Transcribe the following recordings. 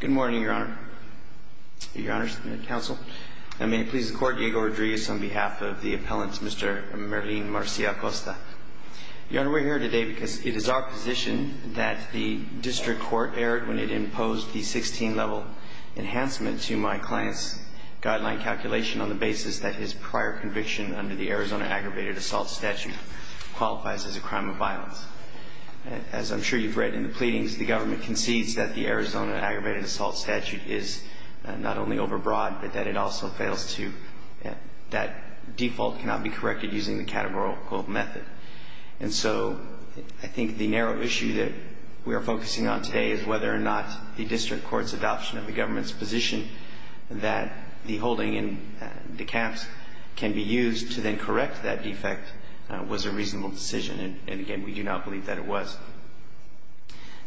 Good morning, Your Honor. Your Honor, Mr. Counsel. I may please the Court, Diego Rodriguez, on behalf of the appellant, Mr. Merlin Marcia-Acosta. Your Honor, we're here today because it is our position that the District Court erred when it imposed the 16-level enhancement to my client's guideline calculation on the basis that his prior conviction under the Arizona Aggravated Assault Statute qualifies as a crime of violence. As I'm sure you've read in the pleadings, the government concedes that the Arizona Aggravated Assault Statute is not only overbroad, but that it also fails to, that default cannot be corrected using the categorical method. And so I think the narrow issue that we are focusing on today is whether or not the District Court's adoption of the government's position that the holding in DeKalb's can be used to then correct that defect was a reasonable decision, and again, we do not believe that it was.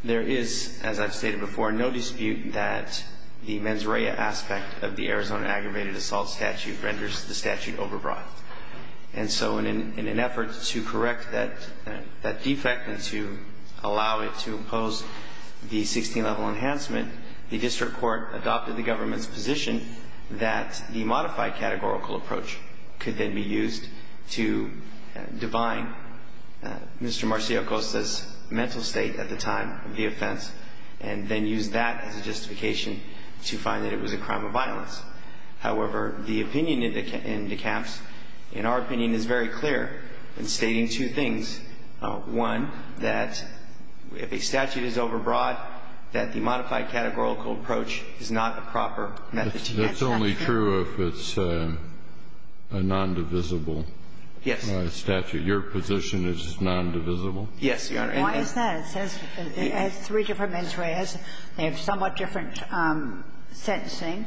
There is, as I've stated before, no dispute that the mens rea aspect of the Arizona Aggravated Assault Statute renders the statute overbroad. And so in an effort to correct that defect and to allow it to impose the 16-level enhancement, the District Court adopted the government's position that the modified categorical approach could then be used to divine Mr. Marcia-Acosta's mental state at the time of the offense and then use that as a justification to find that it was a crime of violence. However, the opinion in DeKalb's, in our opinion, is very clear in stating two things. One, that if a statute is overbroad, that the modified categorical approach is not a proper method to get such a statute. That's only true if it's a non-divisible statute. Yes. Your position is non-divisible? Yes, Your Honor. Why is that? Because it says as three different mens reas, they have somewhat different sentencing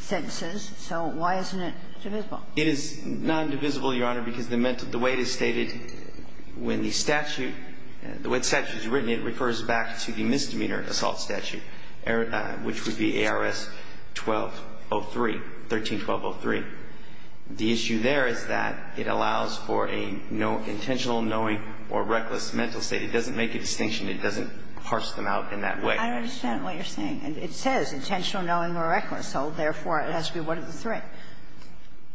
sentences. So why isn't it divisible? It is non-divisible, Your Honor, because the mental – the way it is stated, when the statute – when the statute is written, it refers back to the misdemeanor assault statute, which would be ARS-1303. The issue there is that it allows for a intentional knowing or reckless mental state. It doesn't make a distinction. It doesn't parse them out in that way. I don't understand what you're saying. It says intentional knowing or reckless. So, therefore, it has to be one of the three.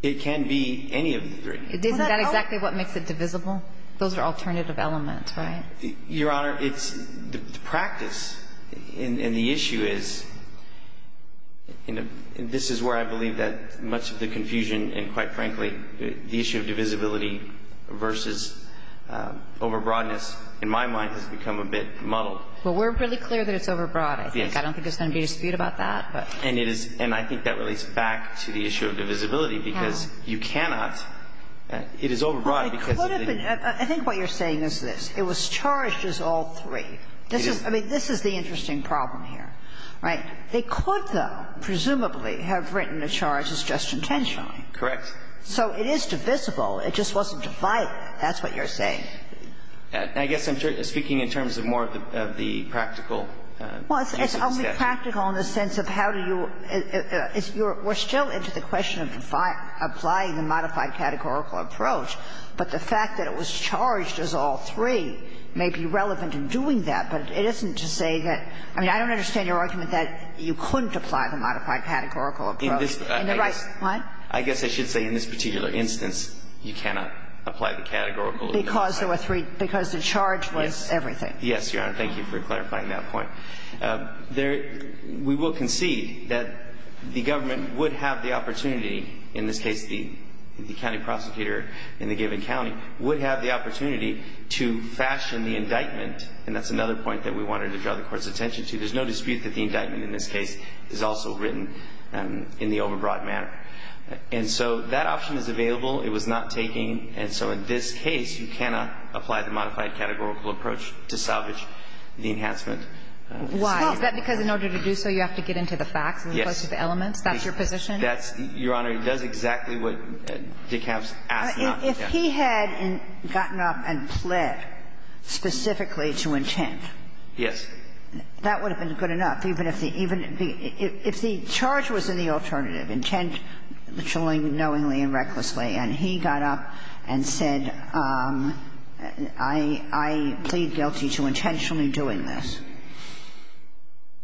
It can be any of the three. Isn't that exactly what makes it divisible? Those are alternative elements, right? Your Honor, it's – the practice and the issue is – and this is where I believe that much of the confusion and, quite frankly, the issue of divisibility versus overbroadness, in my mind, has become a bit muddled. Well, we're really clear that it's overbroad, I think. Yes. I don't think there's going to be a dispute about that. And it is – and I think that relates back to the issue of divisibility because you cannot – it is overbroad because of the – I mean, I think what you're saying is this. It was charged as all three. It is. I mean, this is the interesting problem here, right? They could, though, presumably, have written the charges just intentionally. Correct. So it is divisible. It just wasn't divided. That's what you're saying. I guess I'm speaking in terms of more of the practical use of the statute. Well, it's only practical in the sense of how do you – we're still into the question of applying the modified categorical approach. But the fact that it was charged as all three may be relevant in doing that, but it isn't to say that – I mean, I don't understand your argument that you couldn't apply the modified categorical approach. In the right – what? I guess I should say in this particular instance, you cannot apply the categorical approach. Because there were three – because the charge was everything. Yes, Your Honor. Thank you for clarifying that point. We will concede that the government would have the opportunity – in this case, the county prosecutor in the given county – would have the opportunity to fashion the indictment. And that's another point that we wanted to draw the Court's attention to. There's no dispute that the indictment in this case is also written in the overbroad manner. And so that option is available. It was not taken. And so in this case, you cannot apply the modified categorical approach to salvage the enhancement. Why? Is that because in order to do so, you have to get into the facts as opposed to the elements? Yes. That's your position? That's – Your Honor, it does exactly what DeKalb's asked not to do. If he had gotten up and pled specifically to intent. Yes. That would have been good enough, even if the – even if the charge was in the alternative, intent knowingly and recklessly, and he got up and said, I plead guilty to intention intentionally doing this.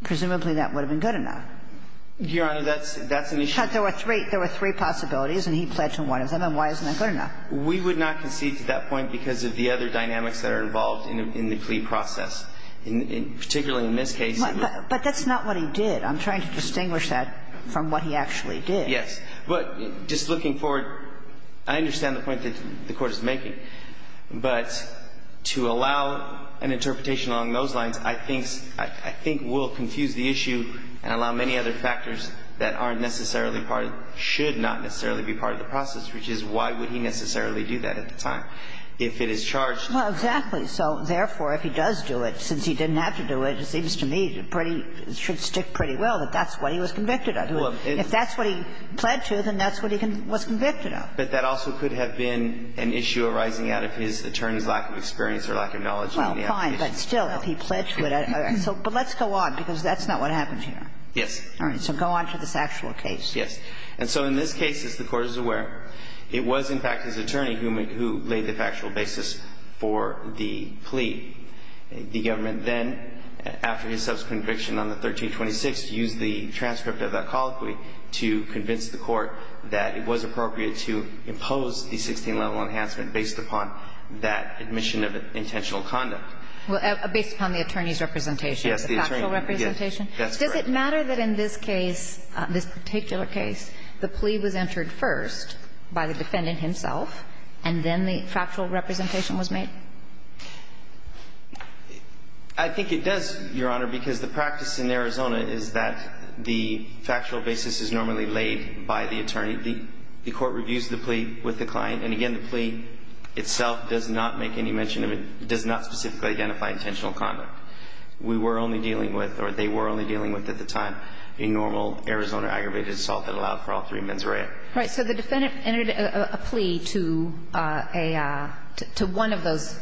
Presumably that would have been good enough. Your Honor, that's an issue. But there were three possibilities, and he pled to one of them. And why isn't that good enough? We would not concede to that point because of the other dynamics that are involved in the plea process, particularly in this case. But that's not what he did. I'm trying to distinguish that from what he actually did. Yes. But just looking forward, I understand the point that the Court is making. But to allow an interpretation along those lines, I think – I think will confuse the issue and allow many other factors that aren't necessarily part of – should not necessarily be part of the process, which is why would he necessarily do that at the time if it is charged. Well, exactly. So, therefore, if he does do it, since he didn't have to do it, it seems to me pretty – should stick pretty well that that's what he was convicted of. If that's what he pled to, then that's what he was convicted of. But that also could have been an issue arising out of his attorney's lack of experience or lack of knowledge in the application. Well, fine. But still, if he pled to it – but let's go on, because that's not what happens here. Yes. All right. So go on to this actual case. And so in this case, as the Court is aware, it was, in fact, his attorney who made – who laid the factual basis for the plea. The government then, after his subsequent conviction on the 1326, used the transcript of that colloquy to convince the Court that it was appropriate to impose the 16-level enhancement based upon that admission of intentional conduct. Well, based upon the attorney's representation. Yes, the attorney. The factual representation. Yes. That's correct. Does it matter that in this case, this particular case, the plea was entered first by the defendant himself, and then the factual representation was made? I think it does, Your Honor, because the practice in Arizona is that the factual basis is normally laid by the attorney. The Court reviews the plea with the client. And again, the plea itself does not make any mention of it – does not specifically identify intentional conduct. We were only dealing with, or they were only dealing with at the time, a normal Arizona aggravated assault that allowed for all three mens rea. Right. So the defendant entered a plea to a – to one of those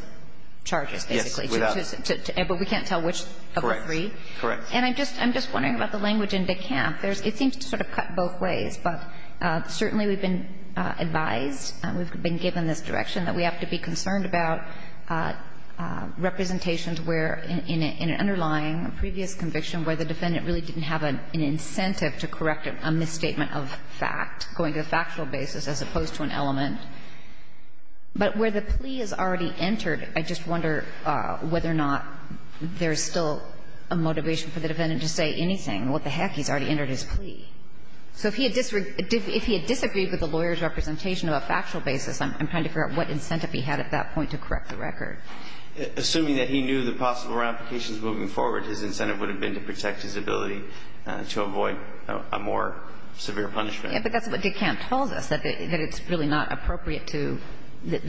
charges, basically. Yes, without. But we can't tell which of the three? Correct. Correct. And I'm just wondering about the language in DeKalb. It seems to sort of cut both ways, but certainly we've been advised, we've been given this direction, that we have to be concerned about representations where, in an underlying previous conviction, where the defendant really didn't have an incentive to correct a misstatement of fact, going to the factual basis as opposed to an element. But where the plea is already entered, I just wonder whether or not there is still a motivation for the defendant to say anything. What the heck? He's already entered his plea. So if he had disagreed with the lawyer's representation of a factual basis, I'm trying to figure out what incentive he had at that point to correct the record. Assuming that he knew the possible ramifications moving forward, his incentive would have been to protect his ability to avoid a more severe punishment. Yes, but that's what DeKalb tells us, that it's really not appropriate to – that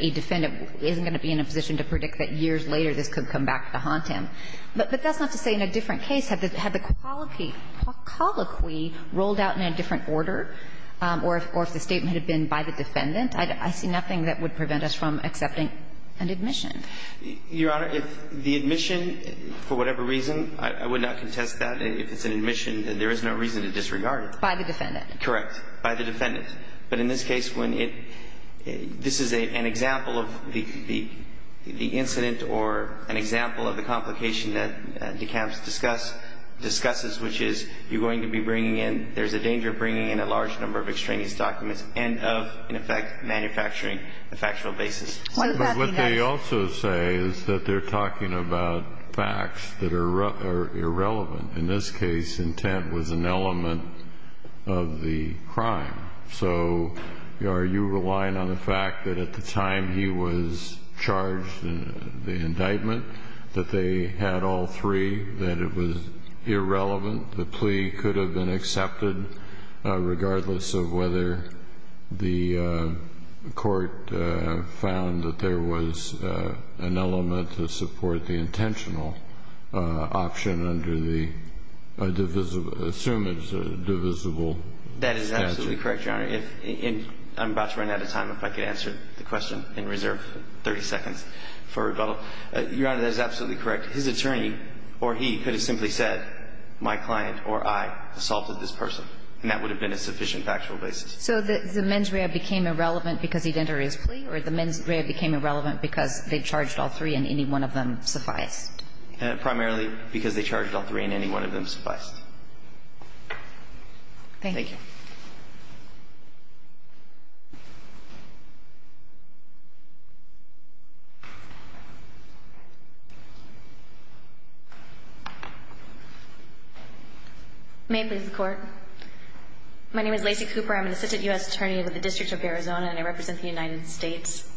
a defendant isn't going to be in a position to predict that years later this could come back to haunt him. But that's not to say in a different case, had the colloquy rolled out in a different order, or if the statement had been by the defendant, I see nothing that would prevent us from accepting an admission. Your Honor, if the admission, for whatever reason, I would not contest that. If it's an admission, there is no reason to disregard it. By the defendant. Correct. By the defendant. But in this case, when it – this is an example of the incident or an example of the complication that DeKalb discusses, which is you're going to be bringing in – there's a danger of bringing in a large number of extraneous documents and of, in effect, manufacturing a factual basis. But what they also say is that they're talking about facts that are irrelevant. In this case, intent was an element of the crime. So are you relying on the fact that at the time he was charged in the indictment that they had all three, that it was irrelevant, the plea could have been accepted regardless of whether the court found that there was an element to support the intentional option under the – assume it's a divisible statute? That is absolutely correct, Your Honor. If – and I'm about to run out of time. If I could answer the question in reserve 30 seconds for rebuttal. Your Honor, that is absolutely correct. His attorney or he could have simply said, my client or I assaulted this person, and that would have been a sufficient factual basis. So the mens rea became irrelevant because he'd entered his plea or the mens rea became irrelevant because they charged all three and any one of them sufficed? Primarily because they charged all three and any one of them sufficed. Thank you. Thank you. May I please have the court? My name is Lacey Cooper. I'm an assistant U.S. attorney with the District of Arizona, and I represent the United States.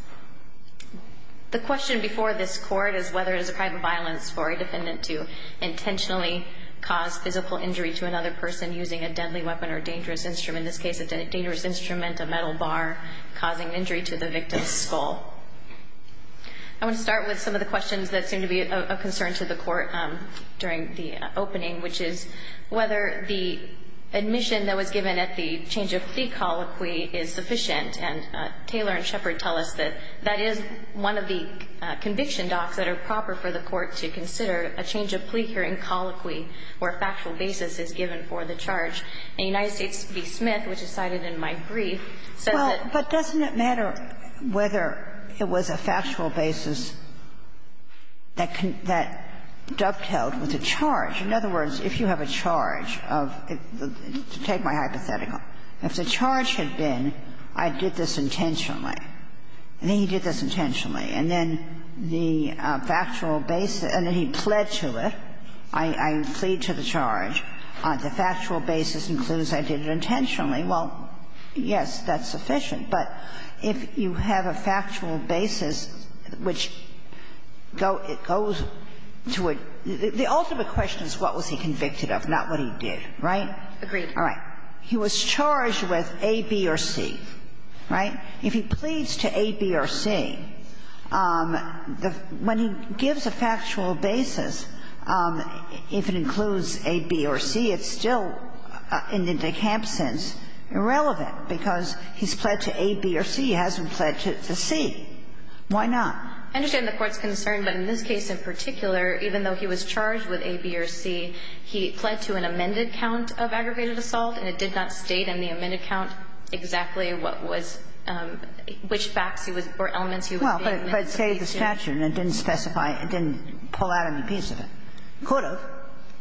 The question before this court is whether it is a crime of violence for a defendant to intentionally cause physical injury to another person using a deadly weapon or dangerous instrument, in this case a dangerous instrument, a metal bar, causing injury to the victim's skull. And there are two questions that I would like to turn to the court during the opening, which is whether the admission that was given at the change of plea colloquy is sufficient, and Taylor and Shepard tell us that that is one of the conviction docs that are proper for the court to consider a change of plea hearing colloquy where a factual basis is given for the charge. And United States v. Smith, which is cited in my brief, said that the fact that you have a factual basis that can, that dovetails with a charge. In other words, if you have a charge of, to take my hypothetical, if the charge had been I did this intentionally, and then he did this intentionally, and then the factual basis, and then he pled to it, I plead to the charge, the factual basis includes I did it intentionally, well, yes, that's sufficient. But if you have a factual basis which goes to a – the ultimate question is what was he convicted of, not what he did, right? Agreed. All right. He was charged with A, B, or C, right? If he pleads to A, B, or C, when he gives a factual basis, if it includes A, B, or C, why not? I understand the Court's concern, but in this case in particular, even though he was charged with A, B, or C, he pled to an amended count of aggravated assault, and it did not state in the amended count exactly what was – which facts he was – or elements he was being admitted to. Well, but it stated the statute, and it didn't specify – it didn't pull out any piece of it. It could have.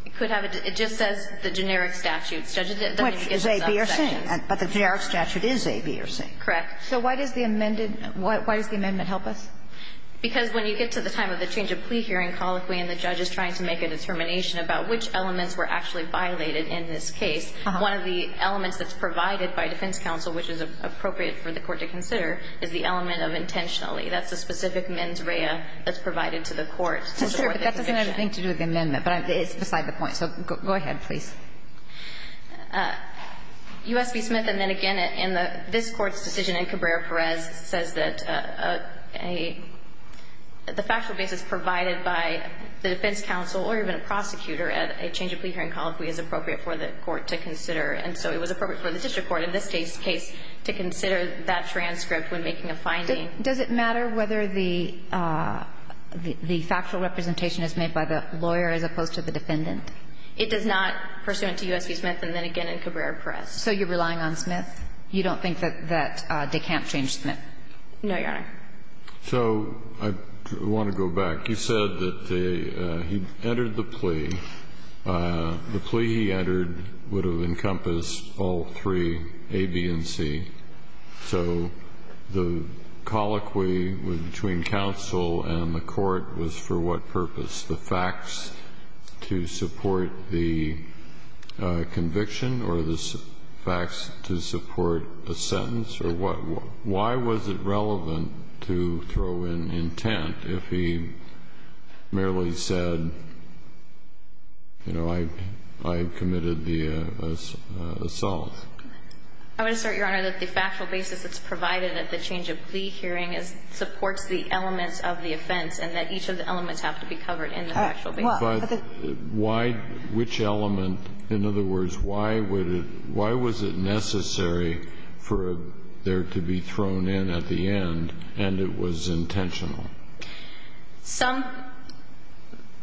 It could have. It just says the generic statute. Which is A, B, or C, but the generic statute is A, B, or C. Correct. So why does the amended – why does the amendment help us? Because when you get to the time of the change of plea hearing, colloquially, and the judge is trying to make a determination about which elements were actually violated in this case, one of the elements that's provided by defense counsel, which is appropriate for the Court to consider, is the element of intentionally. That's the specific mens rea that's provided to the Court to support the conviction. Well, sure, but that doesn't have anything to do with the amendment, but it's beside the point. So go ahead, please. U.S. v. Smith, and then again, in the – this Court's decision in Cabrera-Perez says that a – the factual basis provided by the defense counsel or even a prosecutor at a change of plea hearing, colloquially, is appropriate for the Court to consider. And so it was appropriate for the district court in this case to consider that transcript when making a finding. Does it matter whether the – the factual representation is made by the lawyer as opposed to the defendant? It does not, pursuant to U.S. v. Smith, and then again in Cabrera-Perez. So you're relying on Smith? You don't think that they can't change Smith? No, Your Honor. So I want to go back. You said that the – he entered the plea. The plea he entered would have encompassed all three, A, B, and C. So the colloquy between counsel and the Court was for what purpose? The facts to support the conviction or the facts to support a sentence? Or what – why was it relevant to throw in intent if he merely said, you know, I committed the assault? I would assert, Your Honor, that the factual basis that's provided at the change of plea hearing is – supports the elements of the offense and that each of the elements of the offense that's provided in the factual basis. But why – which element? In other words, why would it – why was it necessary for there to be thrown in at the end and it was intentional? Some –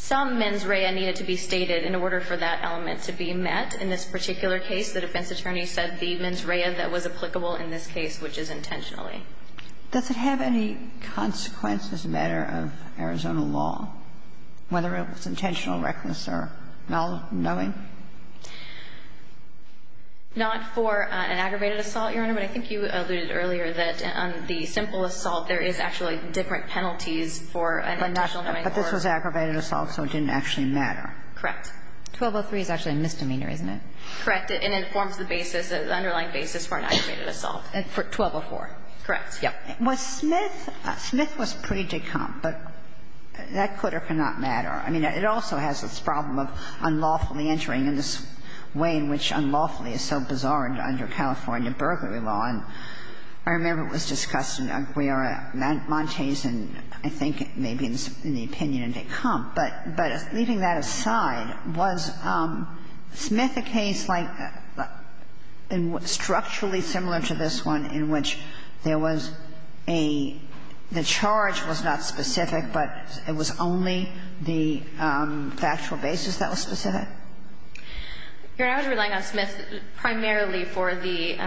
some mens rea needed to be stated in order for that element to be met in this particular case. The defense attorney said the mens rea that was applicable in this case, which is intentionally. Does it have any consequence as a matter of Arizona law, whether it was intentional, reckless, or null – knowing? Not for an aggravated assault, Your Honor. But I think you alluded earlier that on the simple assault, there is actually different penalties for an intentional knowing. But this was aggravated assault, so it didn't actually matter. Correct. 1203 is actually a misdemeanor, isn't it? Correct. And it informs the basis, the underlying basis for an aggravated assault. 1204. Correct. Yeah. Was Smith – Smith was pre-decompt, but that could or could not matter. I mean, it also has this problem of unlawfully entering in this way in which unlawfully is so bizarre under California burglary law. And I remember it was discussed in Aguirre-Montez and I think maybe in the opinion in decompt. But leaving that aside, was Smith a case like – structurally similar to this one in which there was a – the charge was not specific, but it was only the factual basis that was specific? Your Honor, I was relying on Smith primarily for the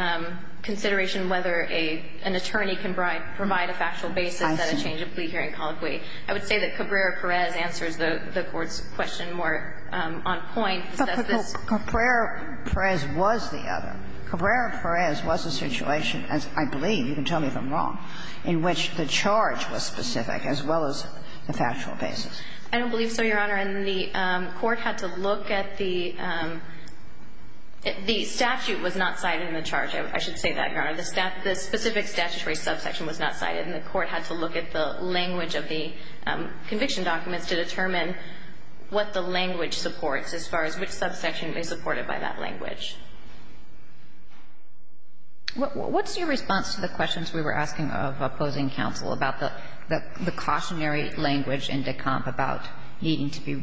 consideration whether an attorney can provide a factual basis at a change of plea hearing colloquy. I would say that Cabrera-Perez answers the Court's question more on point. But Cabrera-Perez was the other. Cabrera-Perez was a situation, as I believe – you can tell me if I'm wrong – in which the charge was specific as well as the factual basis. I don't believe so, Your Honor. And the Court had to look at the – the statute was not cited in the charge. I should say that, Your Honor. The specific statutory subsection was not cited and the Court had to look at the language of the conviction documents to determine what the language supports as far as which subsection is supported by that language. What's your response to the questions we were asking of opposing counsel about the cautionary language in Decomp about needing to be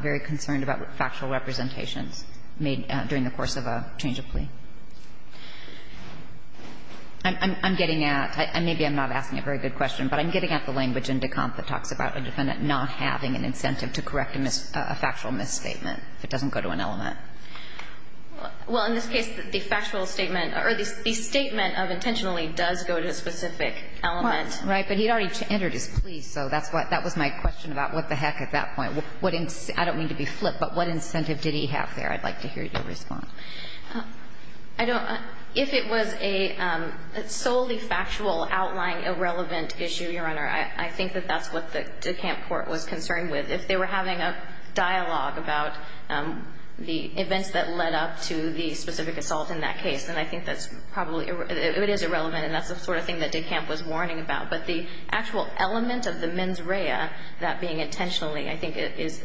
very concerned about factual representations made during the course of a change of plea? I'm getting at – maybe I'm not asking a very good question, but I'm getting at the language in Decomp that talks about a defendant not having an incentive to correct a factual misstatement if it doesn't go to an element. Well, in this case, the factual statement – or the statement of intentionally does go to a specific element. Right. But he'd already entered his plea, so that's what – that was my question about what the heck at that point. What – I don't mean to be flip, but what incentive did he have there? I'd like to hear your response. I don't – if it was a solely factual, outlying, irrelevant issue, Your Honor, I think that that's what the Decomp court was concerned with. If they were having a dialogue about the events that led up to the specific assault in that case, then I think that's probably – it is irrelevant, and that's the sort of thing that Decomp was warning about. But the actual element of the mens rea, that being intentionally, I think is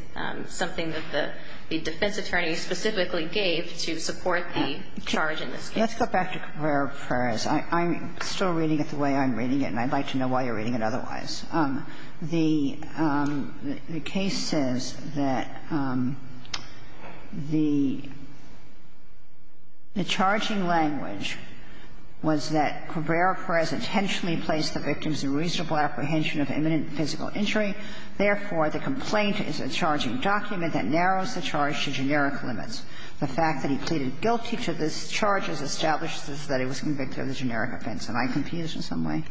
something that the defense attorney specifically gave to support the charge in this case. Let's go back to Carrera-Perez. I'm still reading it the way I'm reading it, and I'd like to know why you're reading it otherwise. The case says that the charging language was that Carrera-Perez intentionally placed the victim's unreasonable apprehension of imminent physical injury. Therefore, the complaint is a charging document that narrows the charge to generic limits. The fact that he pleaded guilty to this charge has established that he was convicted of a generic offense. Am I confused in some way?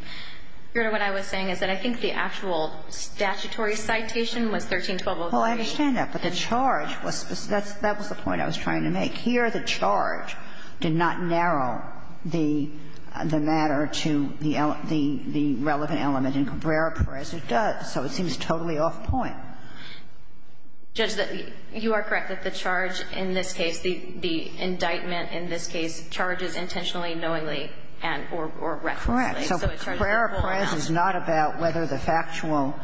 Your Honor, what I was saying is that I think the actual statutory citation was 13-12-03. Well, I understand that. But the charge was – that was the point I was trying to make. Here, the charge did not narrow the matter to the relevant element. In Carrera-Perez, it does, so it seems totally off point. Judge, you are correct that the charge in this case, the indictment in this case charges intentionally, knowingly, and – or recklessly. So Carrera-Perez is not about whether the factual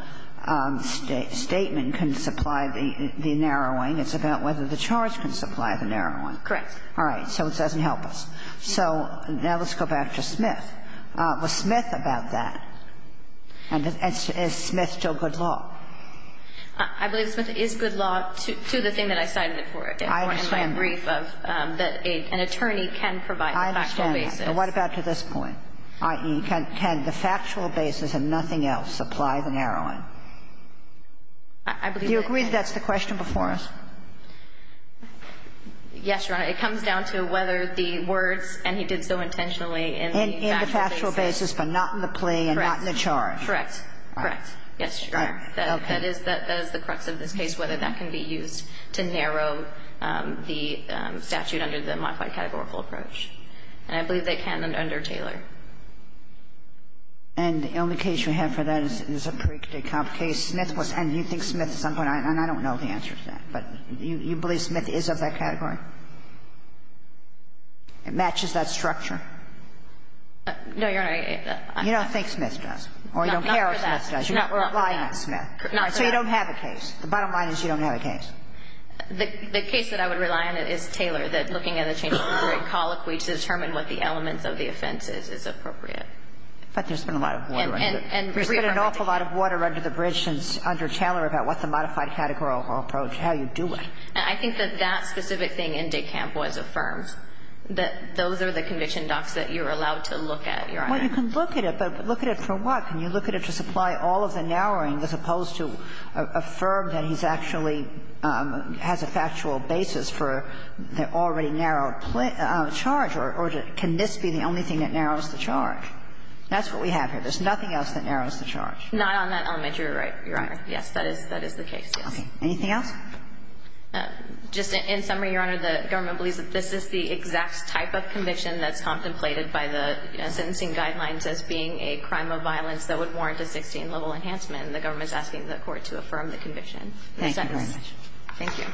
statement can supply the narrowing. It's about whether the charge can supply the narrowing. Correct. All right. So it doesn't help us. So now let's go back to Smith. Was Smith about that? And is Smith still good law? I believe Smith is good law to the thing that I cited it for. I understand that. It was my brief of that an attorney can provide the factual basis. I understand that. And what about to this point, i.e., can the factual basis and nothing else supply the narrowing? Do you agree that that's the question before us? Yes, Your Honor. It comes down to whether the words, and he did so intentionally in the factual basis. In the factual basis, but not in the plea and not in the charge. Correct. Correct. Yes, Your Honor. Okay. That is the crux of this case, whether that can be used to narrow the statute under the modified categorical approach. And I believe they can under Taylor. And the only case we have for that is a pre-cadet comp case. Smith was, and you think Smith at some point, and I don't know the answer to that, but you believe Smith is of that category? It matches that structure? No, Your Honor. You don't think Smith does. Not for that. Or you don't care what Smith does. You're not relying on Smith. Not for that. So you don't have a case. The bottom line is you don't have a case. The case that I would rely on is Taylor, that looking at the change of degree in colloquy to determine what the elements of the offense is, is appropriate. But there's been a lot of water under it. And reaffirmed it. There's been an awful lot of water under the bridge since under Taylor about what the modified categorical approach, how you do it. And I think that that specific thing in Dekamp was affirmed, that those are the conviction docs that you're allowed to look at, Your Honor. Well, you can look at it, but look at it for what? Can you look at it to supply all of the narrowing as opposed to affirm that he's actually has a factual basis for the already narrowed charge? Or can this be the only thing that narrows the charge? That's what we have here. There's nothing else that narrows the charge. Not on that element. You're right, Your Honor. Yes, that is the case, yes. Anything else? Just in summary, Your Honor, the government believes that this is the exact type of conviction that's contemplated by the sentencing guidelines as being a crime of violence that would warrant a 16-level enhancement. And the government's asking the Court to affirm the conviction. Thank you very much. Thank you.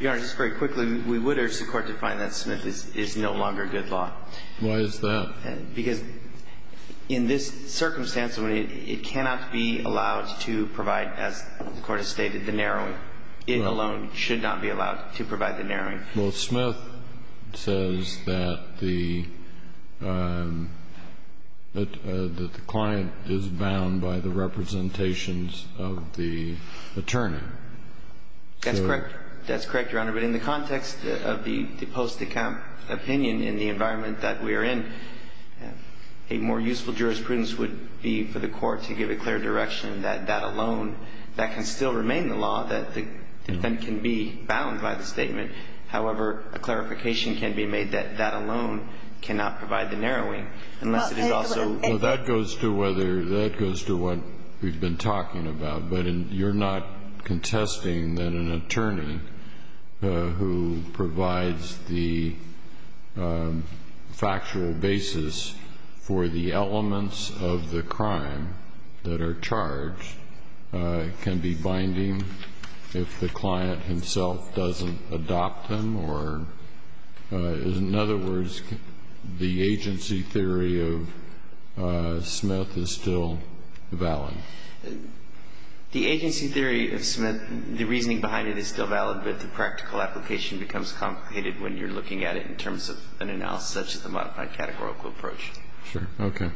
Your Honor, just very quickly, we would urge the Court to find that Smith is no longer good law. Why is that? Because in this circumstance, it cannot be allowed to provide, as the Court has stated, the narrowing. It alone should not be allowed to provide the narrowing. Well, Smith says that the client is bound by the representations of the attorney. That's correct. That's correct, Your Honor. But in the context of the post-account opinion in the environment that we are in, a more useful jurisprudence would be for the Court to give a clear direction that that alone, that can still remain the law, that the defendant can be bound by the statement. However, a clarification can be made that that alone cannot provide the narrowing, unless it is also. Well, that goes to whether, that goes to what we've been talking about. But you're not contesting that an attorney who provides the factual basis for the application becomes complicated when you're looking at it in terms of an analysis of the modified categorical approach? Sure. Okay.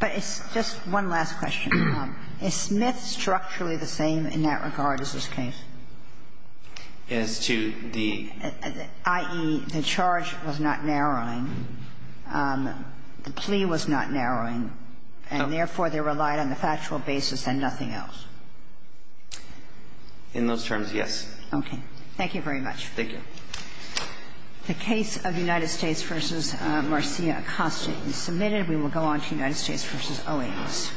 But it's just one last question. Is Smith structurally the same in that regard as this case? As to the? I.e., the charge was not narrowing. The plea was not narrowing. And therefore, they relied on the factual basis and nothing else. In those terms, yes. Okay. Thank you very much. Thank you. The case of United States v. Marcia Acosta is submitted. We will go on to United States v. Owings.